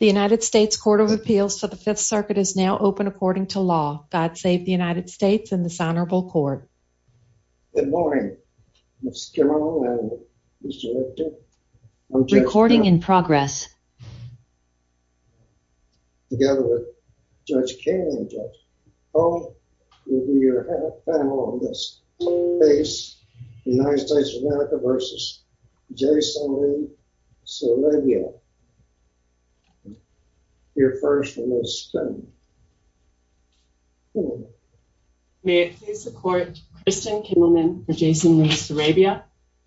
The United States Court of Appeals for the Fifth Circuit is now open according to law. God save the United States and this honorable court. Good morning. Let's get on. I'm recording in progress together with Judge Cain. Oh, you'll be your panel on this base. United States of America versus Jason Sarabia. Your first one is May it please the court, Kristen Kimmelman for Jason v. Sarabia.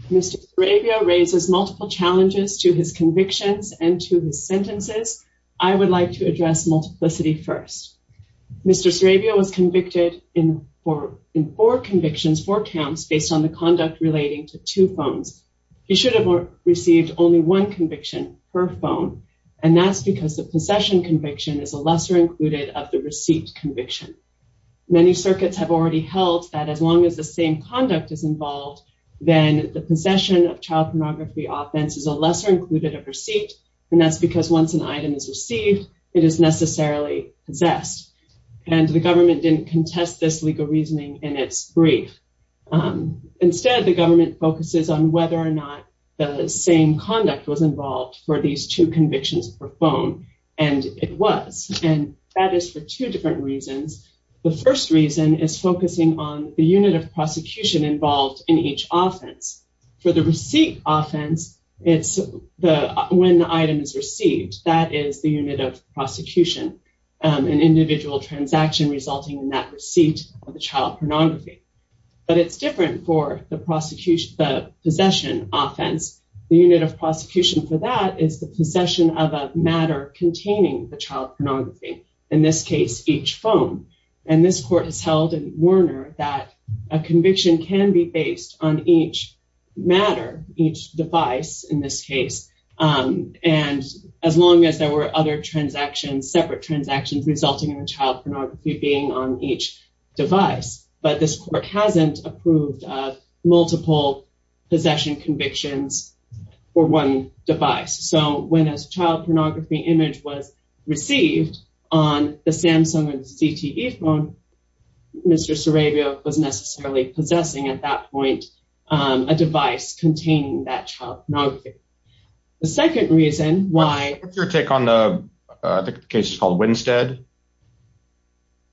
Mr. Sarabia raises multiple challenges to his convictions and to his sentences. I would like to address multiplicity first. Mr. Sarabia was convicted in four convictions, four counts based on the conduct relating to two phones. He should have received only one conviction per phone. And that's because the possession conviction is a lesser included of the receipt conviction. Many circuits have already held that as long as the same conduct is involved, then the possession of child pornography offense is a lesser included of receipt. And that's because once an item is received, it is necessarily possessed. And the government didn't contest this legal reasoning in its brief. Instead, the government focuses on whether or not the same conduct was involved for these two convictions per phone. And it was. And that is for two different reasons. The first reason is focusing on the unit of prosecution involved in each offense. For the receipt offense, it's when the item is received, that is the unit of prosecution, an individual transaction resulting in that receipt of the child pornography. But it's different for the possession offense. The unit of prosecution for that is the possession of a matter containing the child pornography, in this case, each phone. And this court has held in Werner that a conviction can be based on each matter, each device in this case. And as long as there were other transactions, separate transactions, resulting in the child pornography being on each device. But this court hasn't approved of multiple possession convictions for one device. So when a child pornography image was received on the Samsung and CTE phone, Mr. Sarabia was necessarily possessing at that point, a device containing that child pornography. The second reason why... What's your take on the case called Winstead?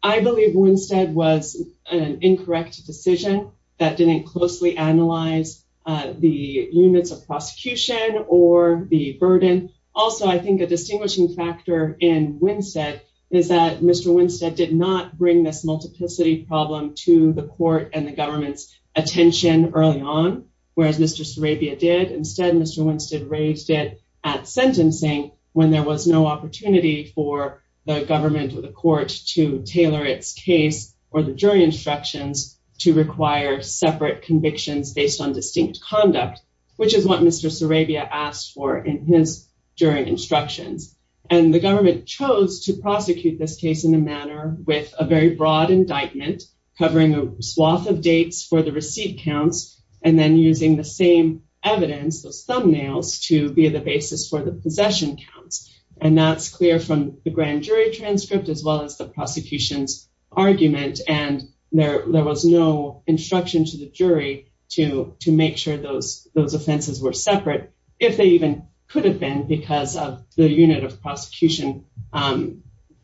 I believe Winstead was an incorrect decision that didn't closely analyze the units of prosecution or the burden. Also, I think a distinguishing factor in Winstead is that Mr. Winstead did not bring this multiplicity problem to the court and the government's attention early on, whereas Mr. Sarabia did. Instead, Mr. Winstead raised it at sentencing when there was no opportunity for the government to do so. And the government chose to allow the government or the court to tailor its case or the jury instructions to require separate convictions based on distinct conduct, which is what Mr. Sarabia asked for in his jury instructions. And the government chose to prosecute this case in a manner with a very broad indictment, covering a swath of dates for the receipt counts and then using the same evidence, those thumbnails, to be the basis for the possession counts. And that's clear from the grand jury transcript as well as the prosecution's argument. And there was no instruction to the jury to make sure those offenses were separate, if they even could have been because of the unit of prosecution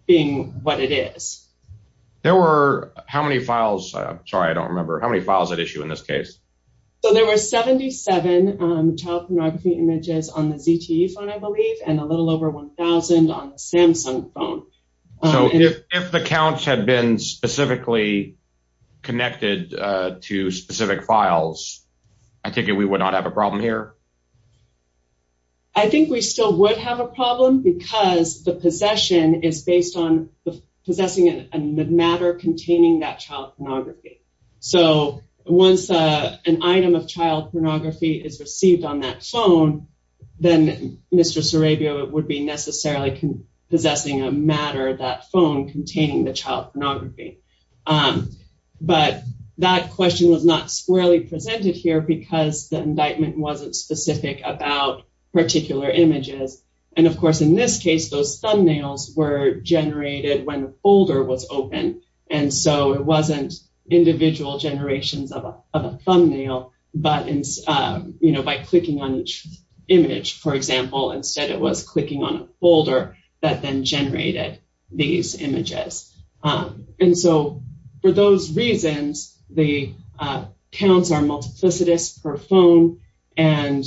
being what it is. There were how many files? I'm sorry, I don't remember. How many files at issue in this case? So there were 77 child pornography images on the ZTE phone, I believe, and a little over 1,000 on the Samsung phone. So if the counts had been specifically connected to specific files, I think we would not have a problem here? I think we still would have a problem because the possession is based on possessing a matter containing that child pornography. So once an item of child pornography is received on that phone, then Mr. Sarabia would be necessarily possessing a matter, that phone containing the child pornography. But that question was not squarely presented here because the indictment wasn't specific about particular images. And of course, in this case, those thumbnails were generated when the folder was open. And so it wasn't individual generations of a thumbnail, but by clicking on each image, for example. Instead, it was clicking on a folder that then generated these images. And so for those reasons, the counts are multiplicitous per phone. And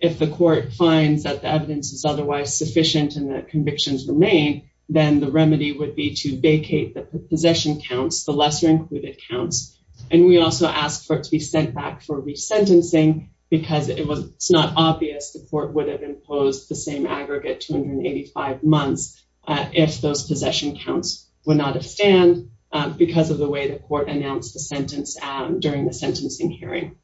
if the court finds that the evidence is otherwise sufficient and the convictions remain, then the remedy would be to vacate the possession counts, the lesser included counts. And we also ask for it to be sent back for resentencing because it's not obvious the court would have imposed the same aggregate 285 months if those possession counts would not have stand because of the way the court announced the sentence during the sentencing hearing.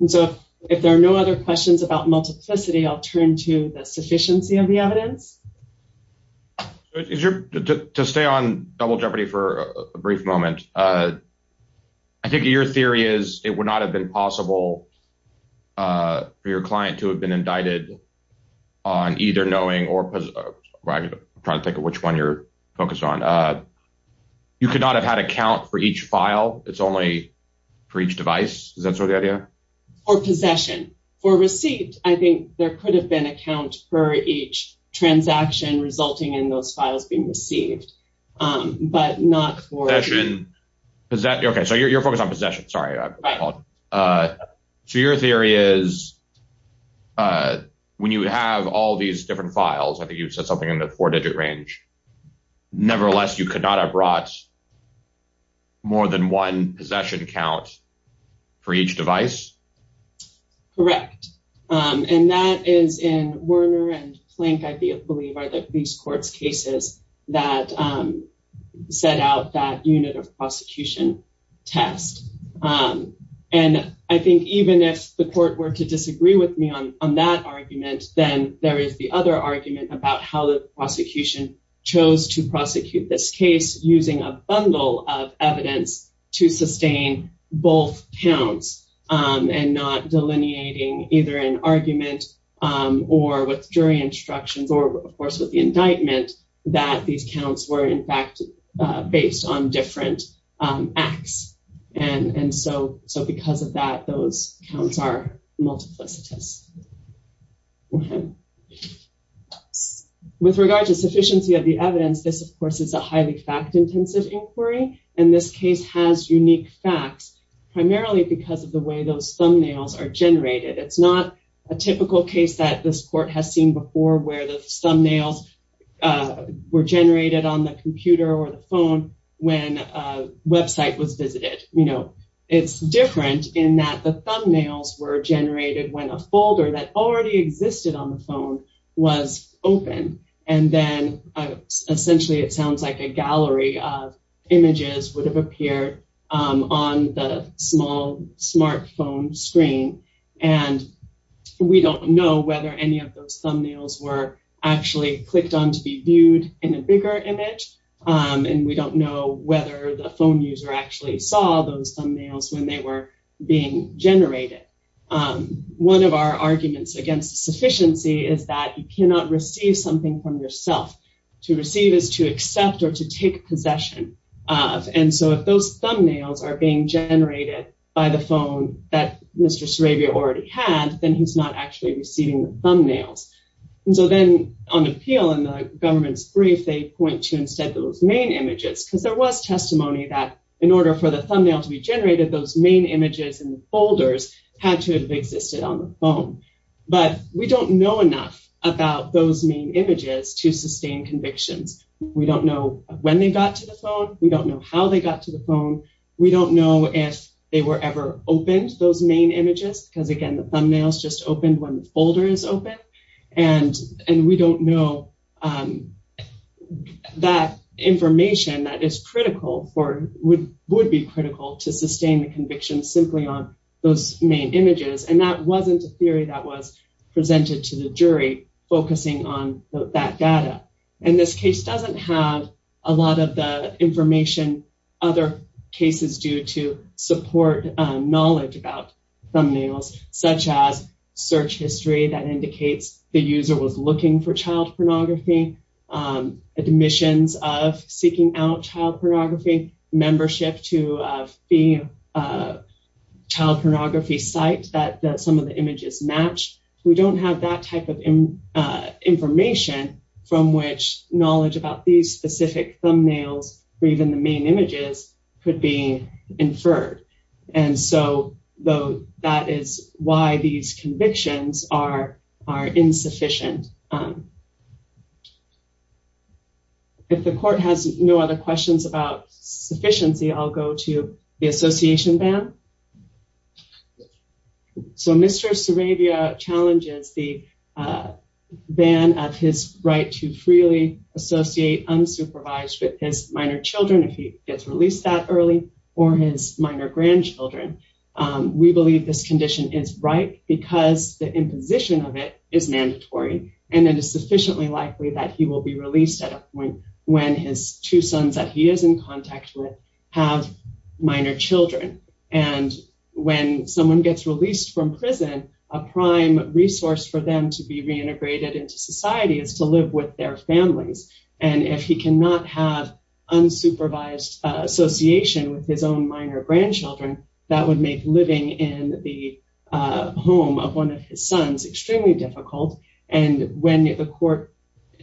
And so if there are no other questions about multiplicity, I'll turn to the sufficiency of the evidence. To stay on Double Jeopardy for a brief moment, I think your theory is it would not have been possible for your client to have been indicted on either knowing or I'm trying to think of which one you're focused on. You could not have had a count for each file. It's only for each device. Is that sort of the idea? Or possession. For received, I think there could have been a count for each transaction resulting in those files being received, but not for possession. Okay, so you're focused on possession. Sorry. So your theory is when you have all these different files, I think you've said something in the four-digit range. Nevertheless, you could not have brought more than one possession count for each device. Correct, and that is in Werner and Plank, I believe are the police court's cases that set out that unit of prosecution test. And I think even if the court were to disagree with me on that argument, then there is the other argument about how the prosecution chose to prosecute this case using a bundle of evidence to sustain both counts and not delineating either an argument or with jury instructions or, of course, with the indictment that these counts were, in fact, based on different acts. And so because of that, those counts are multiplicitous. With regard to sufficiency of the evidence, this, of course, is a highly fact-intensive inquiry, and this case has unique facts, primarily because of the way those thumbnails are generated. It's not a typical case that this court has seen before where the thumbnails were generated on the computer or the phone when a website was visited. It's different in that the thumbnails were generated when a folder that already existed on the phone was open, and then essentially it sounds like a gallery of images would have appeared on the small smartphone screen, and we don't know whether any of those thumbnails were actually clicked on to be viewed in a bigger image, and we don't know whether the phone user actually saw those thumbnails when they were being generated. One of our arguments against sufficiency is that you cannot receive something from yourself. To receive is to accept or to take possession of, and so if those thumbnails are being generated by the phone that Mr. Sarabia already had, then he's not actually receiving the thumbnails. And so then on appeal in the government's brief, they point to, instead, those main images because there was testimony that, in order for the thumbnail to be generated, those main images in the folders had to have existed on the phone, but we don't know enough about those main images to sustain convictions. We don't know when they got to the phone. We don't know how they got to the phone. We don't know if they were ever opened, those main images, because, again, the thumbnails just opened when the folder is open, and we don't know that information that is critical for, would be critical to sustain the conviction simply on those main images, and that wasn't a theory that was presented to the jury, focusing on that data, and this case doesn't have a lot of the information other cases do to support knowledge about thumbnails, such as search history that indicates the user was looking for child pornography, admissions of seeking out child pornography, membership to a fee child pornography site that some of the images match. We don't have that type of information from which knowledge about these specific thumbnails or even the main images could be inferred, and so that is why these convictions are insufficient. If the court has no other questions about sufficiency, I'll go to the association ban. So Mr. Sarabia challenges the ban of his right to freely associate unsupervised with his minor children if he gets released that early or his minor grandchildren. We believe this condition is right because the imposition of it is mandatory, and it is sufficiently likely that he will be released at a point when his two sons that he is in contact with have minor children, and when someone gets released from prison, a prime resource for them to be reintegrated into society is to live with their families, and if he cannot have unsupervised association with his own minor grandchildren, that would make living in the home of one of his sons extremely difficult, and when the court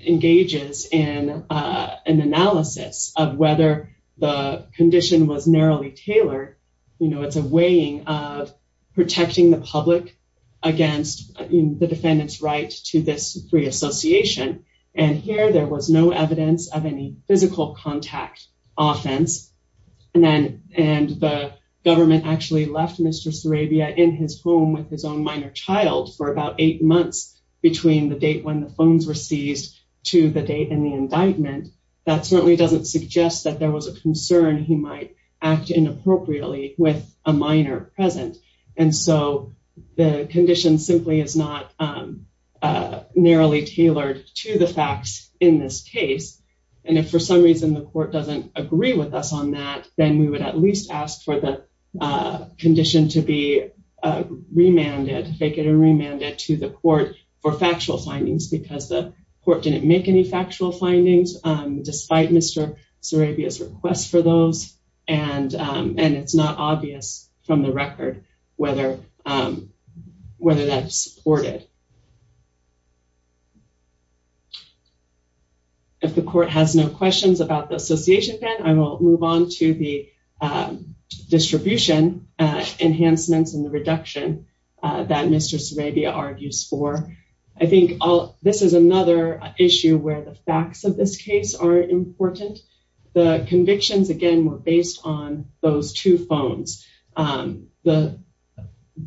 engages in an analysis of whether the condition was narrowly tailored, you know, it's a weighing of protecting the public against the defendant's right to this free association, and here there was no evidence of any physical contact offense, and the government actually left Mr. Sarabia in his home with his own minor child for about eight months between the date when the phones were seized to the date in the indictment. That certainly doesn't suggest that there was a concern he might act inappropriately with a minor present, and so the condition simply is not narrowly tailored to the facts in this case, and if for some reason the court doesn't agree with us on that, then we would at least ask for the condition to be remanded, faked and remanded to the court for factual findings because the court didn't make any factual findings despite Mr. Sarabia's request for those, and it's not obvious from the record whether that's supported. If the court has no questions about the association ban, I will move on to the distribution enhancements and the reduction that Mr. Sarabia argues for. I think this is another issue where the facts of this case are important. The convictions, again, were based on those two phones. The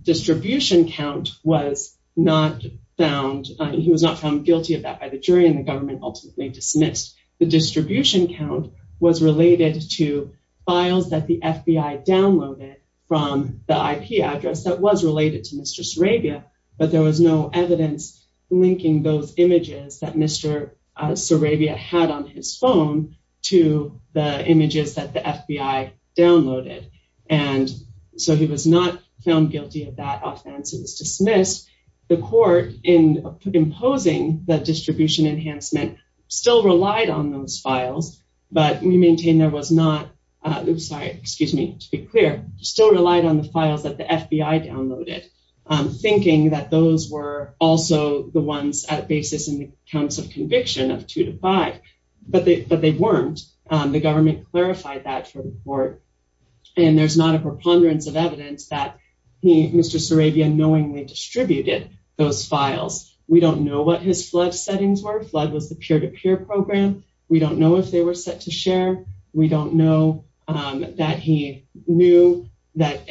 distribution count was not found. He was not found guilty of that by the jury, and the government ultimately dismissed. The distribution count was related to files that the FBI downloaded from the IP address that was related to Mr. Sarabia, but there was no evidence linking those images that Mr. Sarabia had on his phone to the images that the FBI downloaded, and so he was not found guilty of that offense. It was dismissed. The court, in imposing the distribution enhancement, still relied on those files, but we maintain there was not... Oops, sorry. Excuse me. To be clear, still relied on the files that the FBI downloaded, thinking that those were also the ones at basis in the counts of conviction of two to five, but they weren't. The government clarified that for the court, and there's not a preponderance of evidence that Mr. Sarabia knowingly distributed those files. We don't know what his flood settings were. Flood was the peer-to-peer program. We don't know if they were set to share. We don't know that he knew that...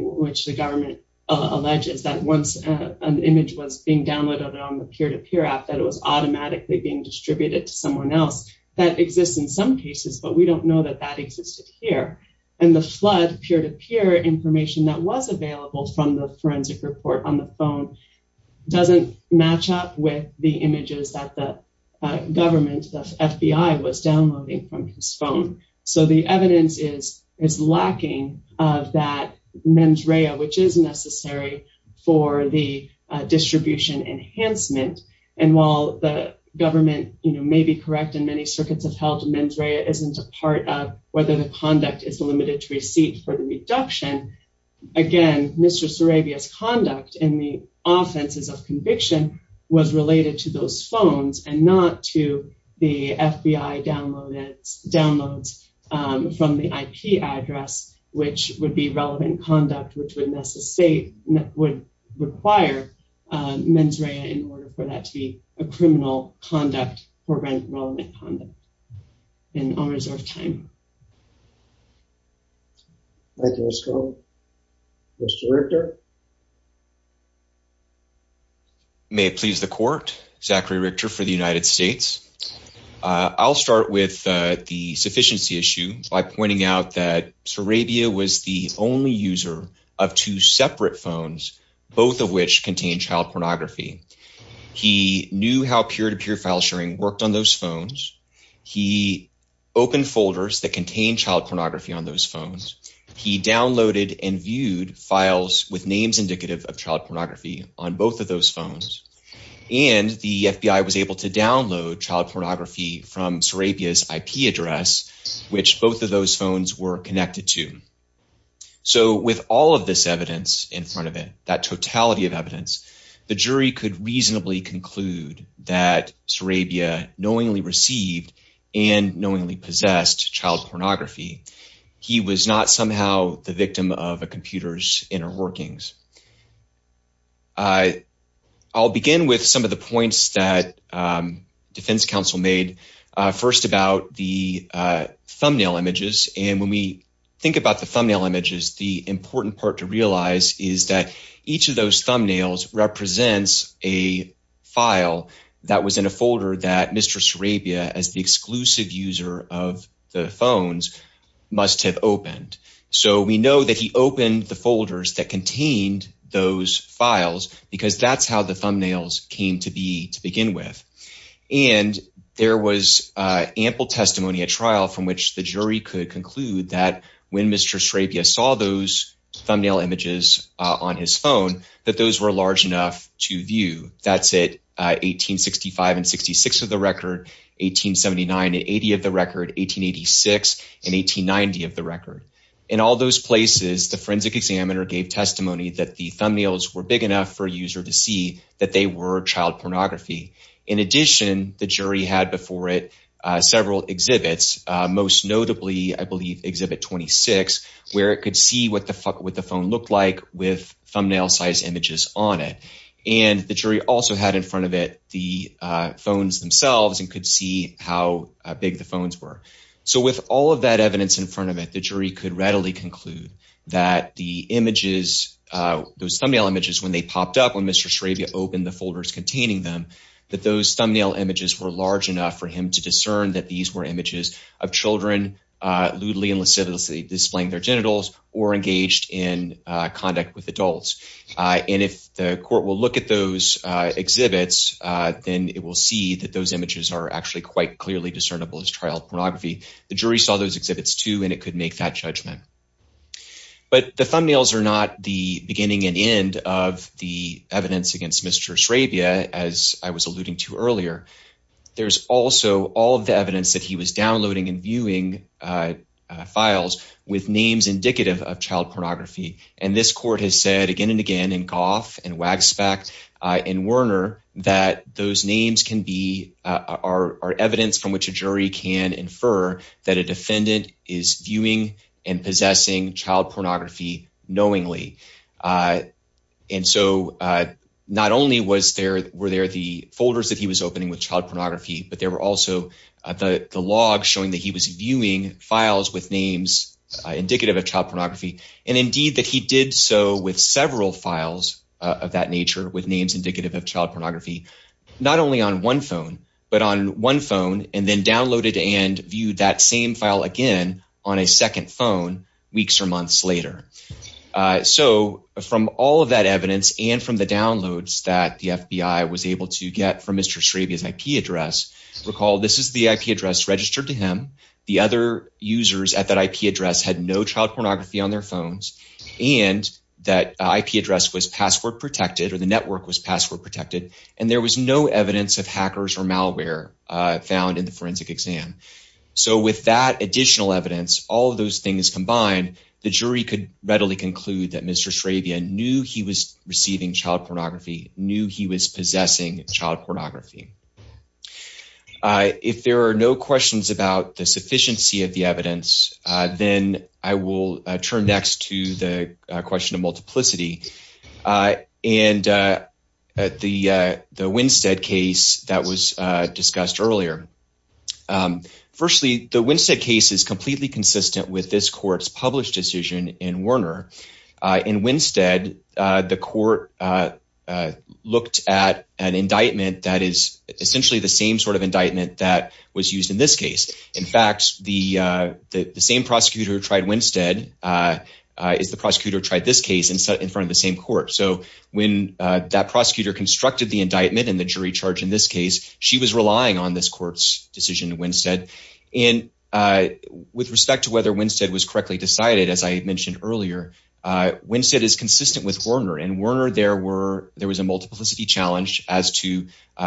which the government alleges that once an image was being downloaded on the peer-to-peer app, that it was automatically being distributed to someone else. That exists in some cases, but we don't know that that existed here, and the flood peer-to-peer information that was available from the forensic report on the phone doesn't match up with the images that the government, the FBI, was downloading from his phone, so the evidence is lacking of that mens rea, which is necessary for the distribution enhancement, and while the government may be correct in many circuits of health, mens rea isn't a part of whether the conduct is limited to receipt for the reduction. Again, Mr. Sarabia's conduct in the offenses of conviction was related to those phones and not to the FBI downloads from the IP address, which would be relevant conduct, which would require mens rea in order for that to be a criminal conduct for relevant conduct in honors of time. Thank you, Ms. Cohn. Mr. Richter? May it please the court, Zachary Richter for the United States. I'll start with the sufficiency issue by pointing out that Sarabia was the only user of two separate phones, both of which contained child pornography. He knew how peer-to-peer file sharing worked on those phones. He opened folders that contained child pornography on those phones. He downloaded and viewed files with men rea with names indicative of child pornography on both of those phones. And the FBI was able to download child pornography from Sarabia's IP address, which both of those phones were connected to. So with all of this evidence in front of it, that totality of evidence, the jury could reasonably conclude that Sarabia knowingly received and knowingly possessed child pornography. He was not somehow the victim of a computer's inner workings. I'll begin with some of the points that defense counsel made. First about the thumbnail images. And when we think about the thumbnail images, the important part to realize is that each of those thumbnails represents a file that was in a folder that Mr. Sarabia as the exclusive user of the phones must have opened. So we know that he opened the folders that contained those files because that's how the thumbnails came to be to begin with. And there was ample testimony at trial from which the jury could conclude that when Mr. Sarabia saw those thumbnail images on his phone, that those were large enough to view. That's it, 1865 and 66 of the record, 1879 and 80 of the record, 1886 and 1890 of the record. In all those places, the forensic examiner gave testimony that the thumbnails were big enough for a user to see that they were child pornography. In addition, the jury had before it several exhibits, most notably, I believe, exhibit 26, where it could see what the phone looked like with thumbnail size images on it. And the jury also had in front of it the phones themselves and could see how big the phones were. So with all of that evidence in front of it, the jury could readily conclude that the images, those thumbnail images, when they popped up when Mr. Sarabia opened the folders containing them, that those thumbnail images were large enough for him to discern that these were images of children lewdly and lasciviously displaying their genitals or engaged in conduct with adults. And if the court will look at those exhibits, then it will see that those images are actually quite clearly discernible as child pornography. The jury saw those exhibits too, and it could make that judgment. But the thumbnails are not the beginning and end of the evidence against Mr. Sarabia, as I was alluding to earlier. There's also all of the evidence that he was downloading and viewing files with names indicative of child pornography. And this court has said again and again in Goff and Wagspect and Werner that those names are evidence from which a jury can infer that a defendant is viewing and possessing child pornography knowingly. And so not only were there the folders that he was opening with child pornography, but there were also the logs showing that he was viewing files with names indicative of child pornography, and indeed that he did so with several files of that nature with names indicative of child pornography, not only on one phone, but on one phone and then downloaded and viewed that same file again on a second phone weeks or months later. So from all of that evidence and from the downloads that the FBI was able to get from Mr. Sarabia's IP address, recall this is the IP address registered to him. The other users at that IP address had no child pornography on their phones, and that IP address was password protected or the network was password protected, and there was no evidence of hackers or malware found in the forensic exam. So with that additional evidence, all of those things combined, the jury could readily conclude that Mr. Sarabia knew he was receiving child pornography, knew he was possessing child pornography. If there are no questions about the sufficiency of the evidence, then I will turn next to the question of multiplicity. And the Winstead case that was discussed earlier. Firstly, the Winstead case is completely consistent with this court's published decision in Warner. In Winstead, the court looked at an indictment that is essentially the same sort of indictment that was used in this case. In fact, the same prosecutor who tried Winstead is the prosecutor who tried this case in front of the same court. So when that prosecutor constructed the indictment and the jury charge in this case, she was relying on this court's decision in Winstead. And with respect to whether Winstead was correctly decided, as I had mentioned earlier, Winstead is consistent with Warner. In Warner, there was a multiplicity challenge as to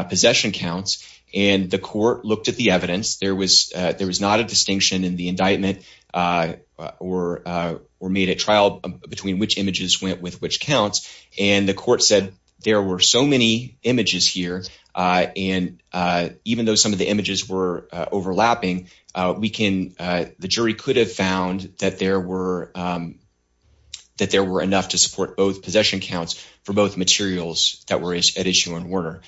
possession counts, and the court looked at the evidence. There was not a distinction in the indictment or made a trial between which images went with which counts. And the court said there were so many images here. And even though some of the images were overlapping, the jury could have found that there were enough to support both possession counts for both materials that were at issue in Warner.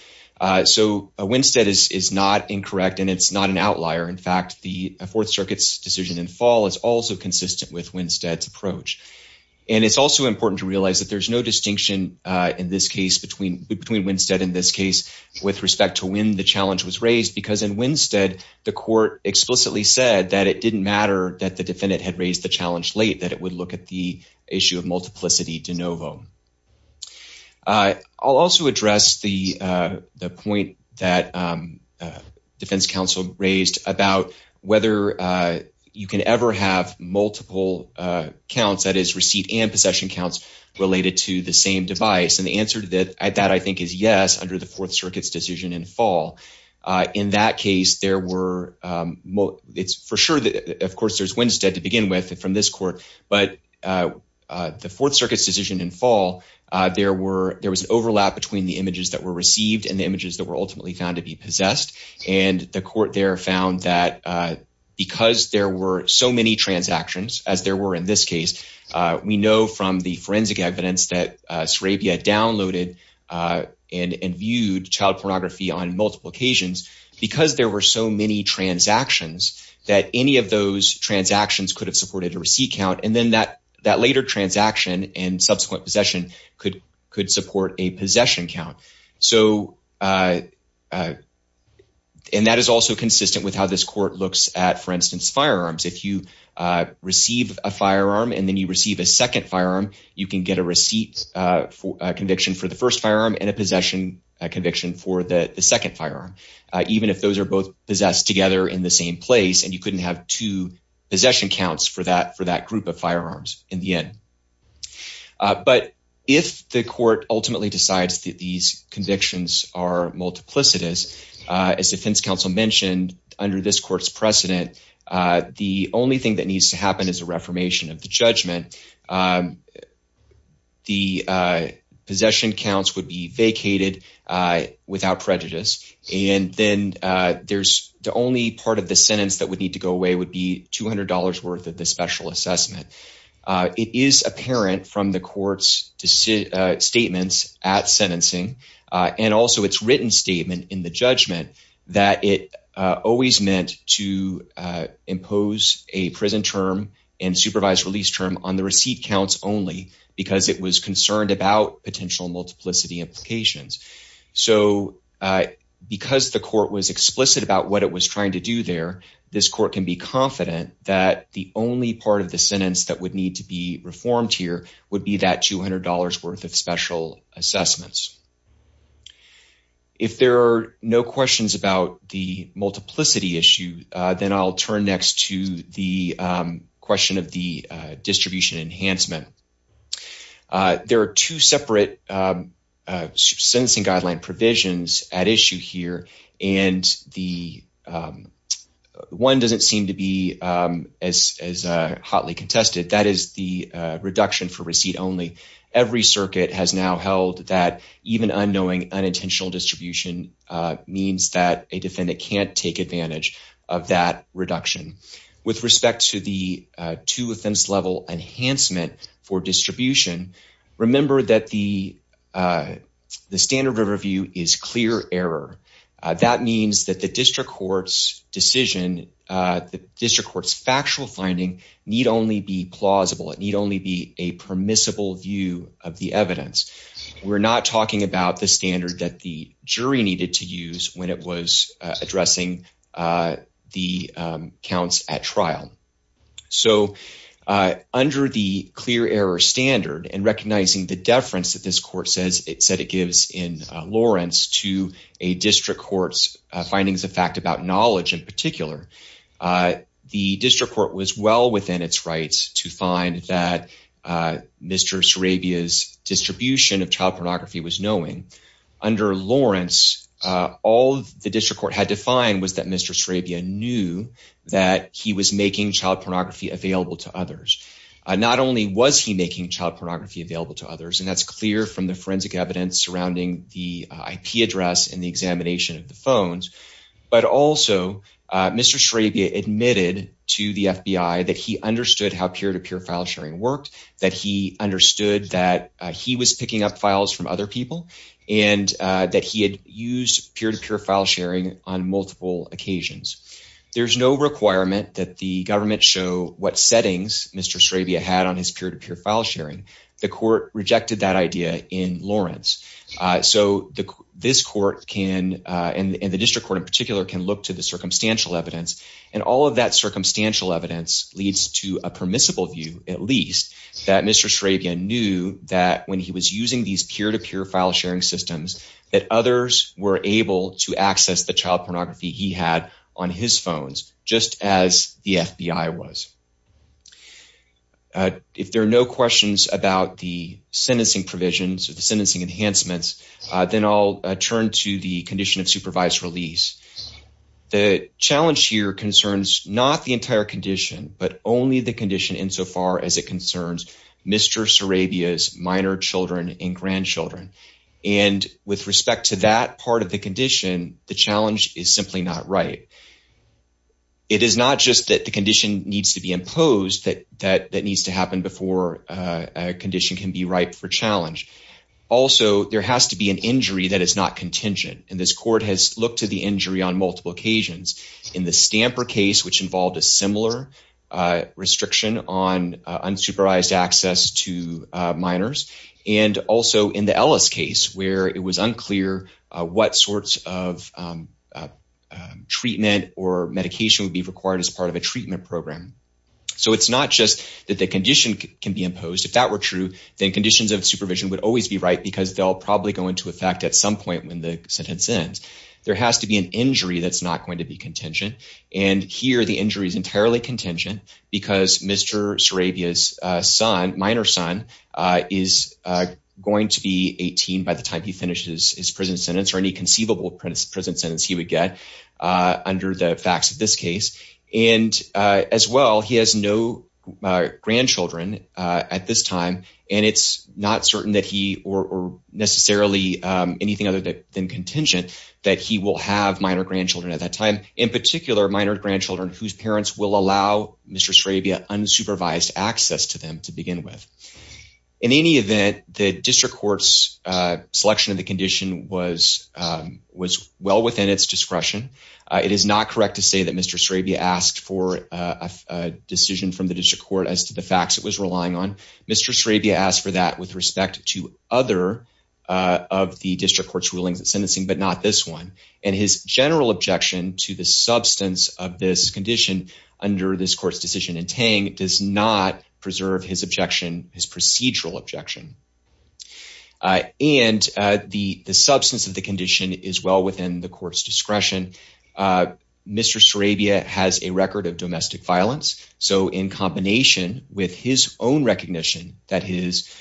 So Winstead is not incorrect and it's not an outlier. In fact, the Fourth Circuit's decision in Fall is also consistent with Winstead's approach. And it's also important to realize that there's no distinction in this case between Winstead and this case with respect to when the challenge was raised, because in Winstead, the court explicitly said that it didn't matter that the defendant had raised the challenge late, that it would look at the issue of multiplicity de novo. I'll also address the point that defense counsel raised about whether you can ever have multiple counts, that is receipt and possession counts, related to the same device. And the answer to that, I think, is yes, under the Fourth Circuit's decision in Fall. In that case, there were, it's for sure that, of course, there's Winstead to begin with from this court, but the Fourth Circuit's decision in Fall, there was an overlap between the images that were received and the images that were ultimately found to be possessed. And the court there found that because there were so many transactions, as there were in this case, we know from the forensic evidence that Sarabia downloaded and viewed child pornography on multiple occasions, because there were so many transactions that any of those transactions could have supported a receipt count. And then that later transaction and subsequent possession could support a possession count. So, and that is also consistent with how this court looks at, for instance, firearms. If you receive a firearm and then you receive a second firearm, you can get a receipt conviction for the first firearm and a possession conviction for the second firearm, even if those are both possessed together in the same place and you couldn't have two possession counts for that group of firearms in the end. But if the court ultimately decides that these convictions are multiplicitous, as defense counsel mentioned, under this court's precedent, the only thing that needs to happen is a reformation of the judgment. The possession counts would be vacated without prejudice. And then there's the only part of the sentence that would need to go away would be $200 worth of the special assessment. It is apparent from the court's statements at sentencing and also its written statement in the judgment that it always meant to impose a prison term and supervised release term on the receipt counts only because it was concerned about potential multiplicity implications. So, because the court was explicit about what it was trying to do there, this court can be confident that the only part of the sentence that would need to be reformed here would be that $200 worth of special assessments. If there are no questions about the multiplicity issue, then I'll turn next to the question of the distribution enhancement. There are two separate sentencing guideline provisions at issue here, and the one doesn't seem to be as hotly contested. That is the reduction for receipt only. Every circuit has now held that even unknowing unintentional distribution means that a defendant can't take advantage of that reduction. With respect to the two offense level enhancement for distribution, remember that the standard of review is clear error. That means that the district court's decision, the district court's factual finding, need only be plausible. It need only be a permissible view of the evidence. We're not talking about the standard that the jury needed to use when it was addressing the counts at trial. So under the clear error standard and recognizing the deference that this court says, it said it gives in Lawrence to a district court's findings of fact about knowledge in particular, the district court was well within its rights to find that Mr. Sarabia's distribution of child pornography was knowing. Under Lawrence, all the district court had to find was that Mr. Sarabia knew that he was making child pornography available to others. Not only was he making child pornography available to others, and that's clear from the forensic evidence surrounding the IP address and the examination of the phones, but also Mr. Sarabia admitted to the FBI that he understood how peer-to-peer file sharing worked, that he understood that he was picking up files from other people and that he had used peer-to-peer file sharing on multiple occasions. There's no requirement that the government show what settings Mr. Sarabia had on his peer-to-peer file sharing. The court rejected that idea in Lawrence. So this court can, and the district court in particular, can look to the circumstantial evidence, and all of that circumstantial evidence leads to a permissible view, at least, that Mr. Sarabia knew that when he was using these peer-to-peer file sharing systems that others were able to access the child pornography he had on his phones, just as the FBI was. If there are no questions about the sentencing provisions or the sentencing enhancements, then I'll turn to the condition of supervised release. The challenge here concerns not the entire condition, but only the condition insofar as it concerns Mr. Sarabia's minor children and grandchildren. And with respect to that part of the condition, the challenge is simply not right. It is not just that the condition needs to be imposed, that needs to happen before a condition can be ripe for challenge. Also, there has to be an injury that is not contingent, and this court has looked to the injury on multiple occasions. In the Stamper case, which involved a similar restriction on unsupervised access to minors, and also in the Ellis case where it was unclear what sorts of treatment or medication would be required as part of a treatment program. So it's not just that the condition can be imposed. If that were true, then conditions of supervision would always be right because they'll probably go into effect at some point when the sentence ends. There has to be an injury that's not going to be contingent, and here the injury is entirely contingent because Mr. Sarabia's minor son is going to be 18 by the time he finishes his prison sentence or any conceivable prison sentence he would get under the facts of this case. And as well, he has no grandchildren at this time, and it's not certain that he, or necessarily anything other than contingent, that he will have minor grandchildren at that time, in particular, minor grandchildren whose parents will allow Mr. Sarabia unsupervised access to them to begin with. In any event, the district court's selection of the condition was well within its discretion. It is not correct to say that Mr. Sarabia asked for a decision from the district court as to the facts it was relying on. Mr. Sarabia asked for that with respect to other of the district court's rulings and sentencing, but not this one, and his general objection to the substance of this condition under this court's decision in Tang does not preserve his objection, his procedural objection. And the substance of the condition is well within the court's discretion. Mr. Sarabia has a record of domestic violence, so in combination with his own recognition that his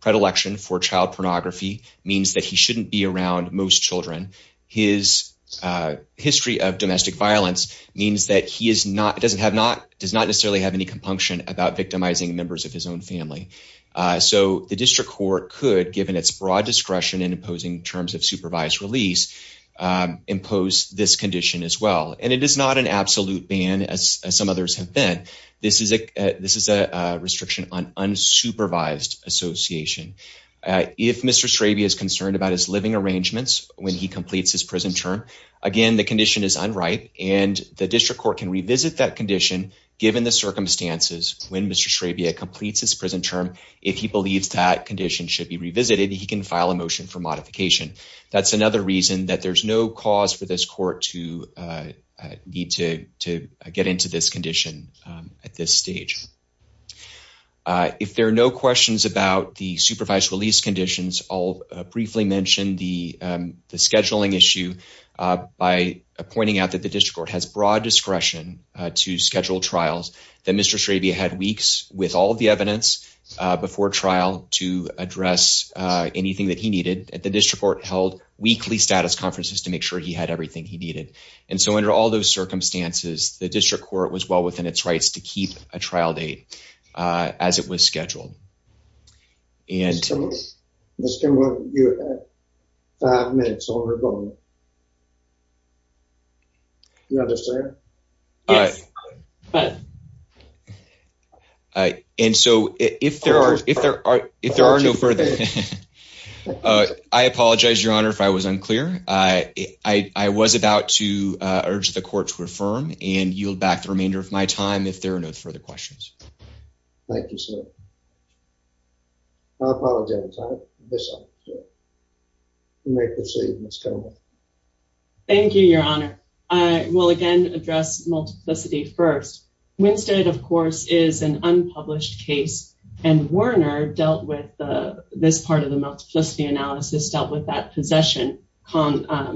predilection for child pornography means that he shouldn't be around most children, his history of domestic violence means that he does not necessarily have any compunction about victimizing members of his own family. So the district court could, given its broad discretion in imposing terms of supervised release, impose this condition as well. And it is not an absolute ban, as some others have been. This is a restriction on unsupervised association. If Mr. Sarabia is concerned about his living arrangements when he completes his prison term, again, the condition is unright, and the district court can revisit that condition given the circumstances when Mr. Sarabia completes his prison term. If he believes that condition should be revisited, he can file a motion for modification. That's another reason that there's no cause for this court to need to get into this condition at this stage. If there are no questions about the supervised release conditions, I'll briefly mention the scheduling issue by pointing out that the district court has broad discretion to schedule trials, that Mr. Sarabia had weeks with all of the evidence before trial to address anything that he needed. The district court held weekly status conferences to make sure he had everything he needed. And so under all those circumstances, to keep a trial date as it was scheduled. And- Mr. Williams, you have five minutes on your phone. Do you understand? Yes. And so if there are no further... I apologize, Your Honor, if I was unclear. I was about to urge the court to affirm and yield back the remainder of my time if there are no further questions. Thank you, sir. I apologize, Your Honor. Yes, sir. You may proceed, Ms. Conway. Thank you, Your Honor. I will again address multiplicity first. Winstead, of course, is an unpublished case and Werner dealt with this part of the multiplicity analysis, dealt with that possession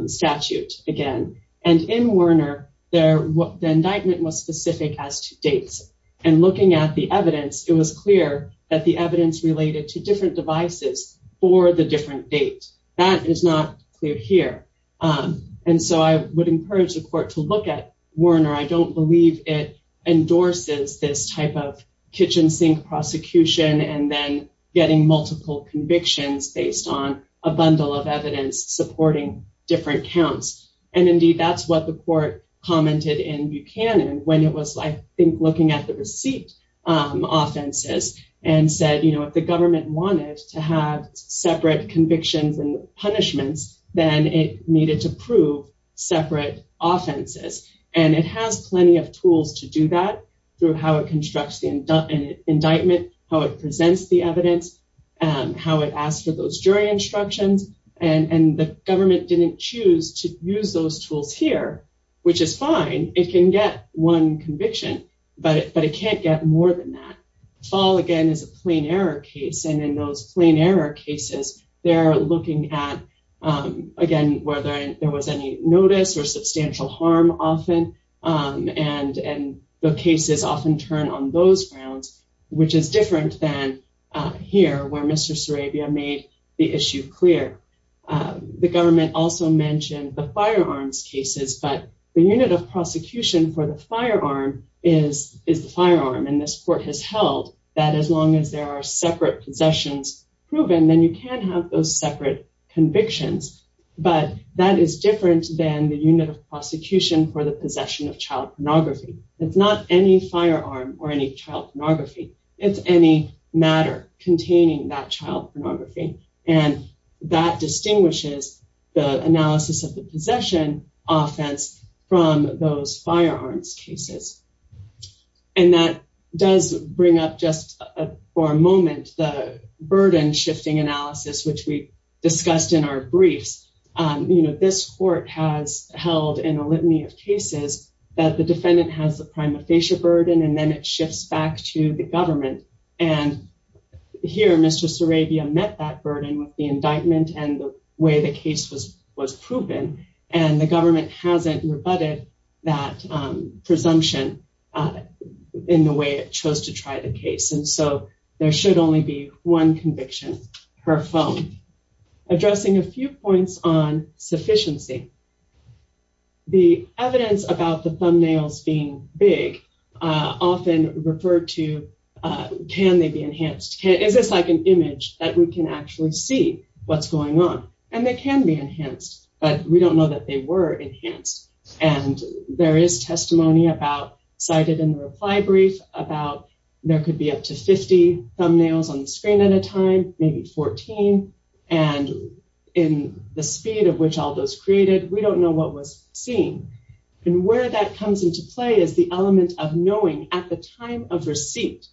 statute again. And in Werner, the indictment was specific as to dates. And looking at the evidence, it was clear that the evidence related to different devices for the different date. That is not clear here. And so I would encourage the court to look at Werner. I don't believe it endorses this type of kitchen sink prosecution and then getting multiple convictions based on a bundle of evidence supporting different counts. And indeed, that's what the court commented in Buchanan when it was, I think, looking at the receipt offenses and said, you know, if the government wanted to have separate convictions and punishments, then it needed to prove separate offenses. And it has plenty of tools to do that through how it constructs the indictment, how it presents the evidence, how it asks for those jury instructions. And the government didn't choose to use those tools here, which is fine. It can get one conviction, but it can't get more than that. Fall, again, is a plain error case. And in those plain error cases, they're looking at, again, whether there was any notice or substantial harm often. And the cases often turn on those grounds, which is different than here, where Mr. Sarabia made the issue clear. The government also mentioned the firearms cases, but the unit of prosecution for the firearm is the firearm. And this court has held that as long as there are separate possessions proven, then you can have those separate convictions. But that is different than the unit of prosecution for the possession of child pornography. It's not any firearm or any child pornography. It's any matter containing that child pornography. And that distinguishes the analysis of the possession offense from those firearms cases. And that does bring up just for a moment the burden shifting analysis, which we discussed in our briefs. You know, this court has held in a litany of cases that the defendant has the prima facie burden, and then it shifts back to the government. And here, Mr. Sarabia met that burden with the indictment and the way the case was proven. And the government hasn't rebutted that presumption in the way it chose to try the case. And so there should only be one conviction per phone. Addressing a few points on sufficiency. The evidence about the thumbnails being big often referred to, can they be enhanced? Is this like an image that we can actually see what's going on? And they can be enhanced, but we don't know that they were enhanced. And there is testimony about cited in the reply brief about there could be up to 50 thumbnails on the screen at a time, maybe 14. And in the speed of which all those created, we don't know what was seen. And where that comes into play is the element of knowing at the time of receipt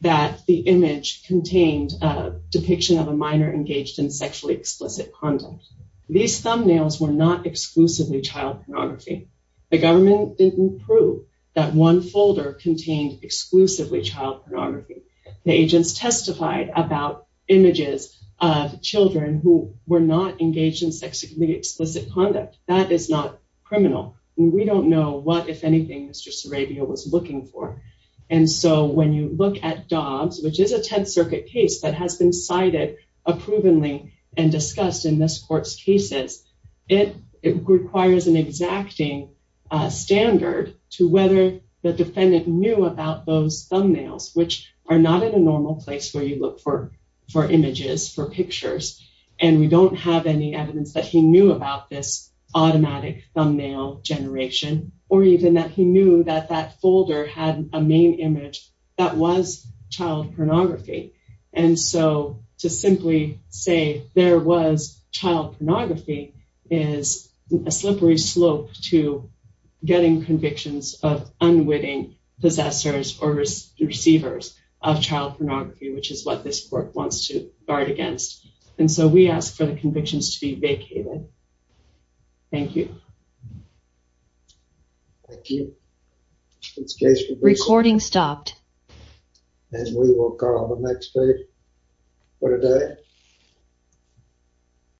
that the image contained a depiction of a minor engaged in sexually explicit conduct. These thumbnails were not exclusively child pornography. The government didn't prove that one folder contained exclusively child pornography. The agents testified about images of children who were not engaged in sexually explicit conduct. That is not criminal. And we don't know what, if anything, Mr. Sarabia was looking for. And so when you look at Dobbs, which is a Tenth Circuit case that has been cited approvingly and discussed in this court's cases, it requires an exacting standard to whether the defendant knew about those thumbnails, which are not in a normal place where you look for images, for pictures. And we don't have any evidence that he knew about this automatic thumbnail generation or even that he knew that that folder had a main image that was child pornography. And so to simply say there was child pornography is a slippery slope to getting convictions of unwitting possessors or receivers of child pornography, which is what this court wants to guard against. And so we ask for the convictions to be vacated. Thank you. Thank you. Recording stopped. And we will call the next case for today.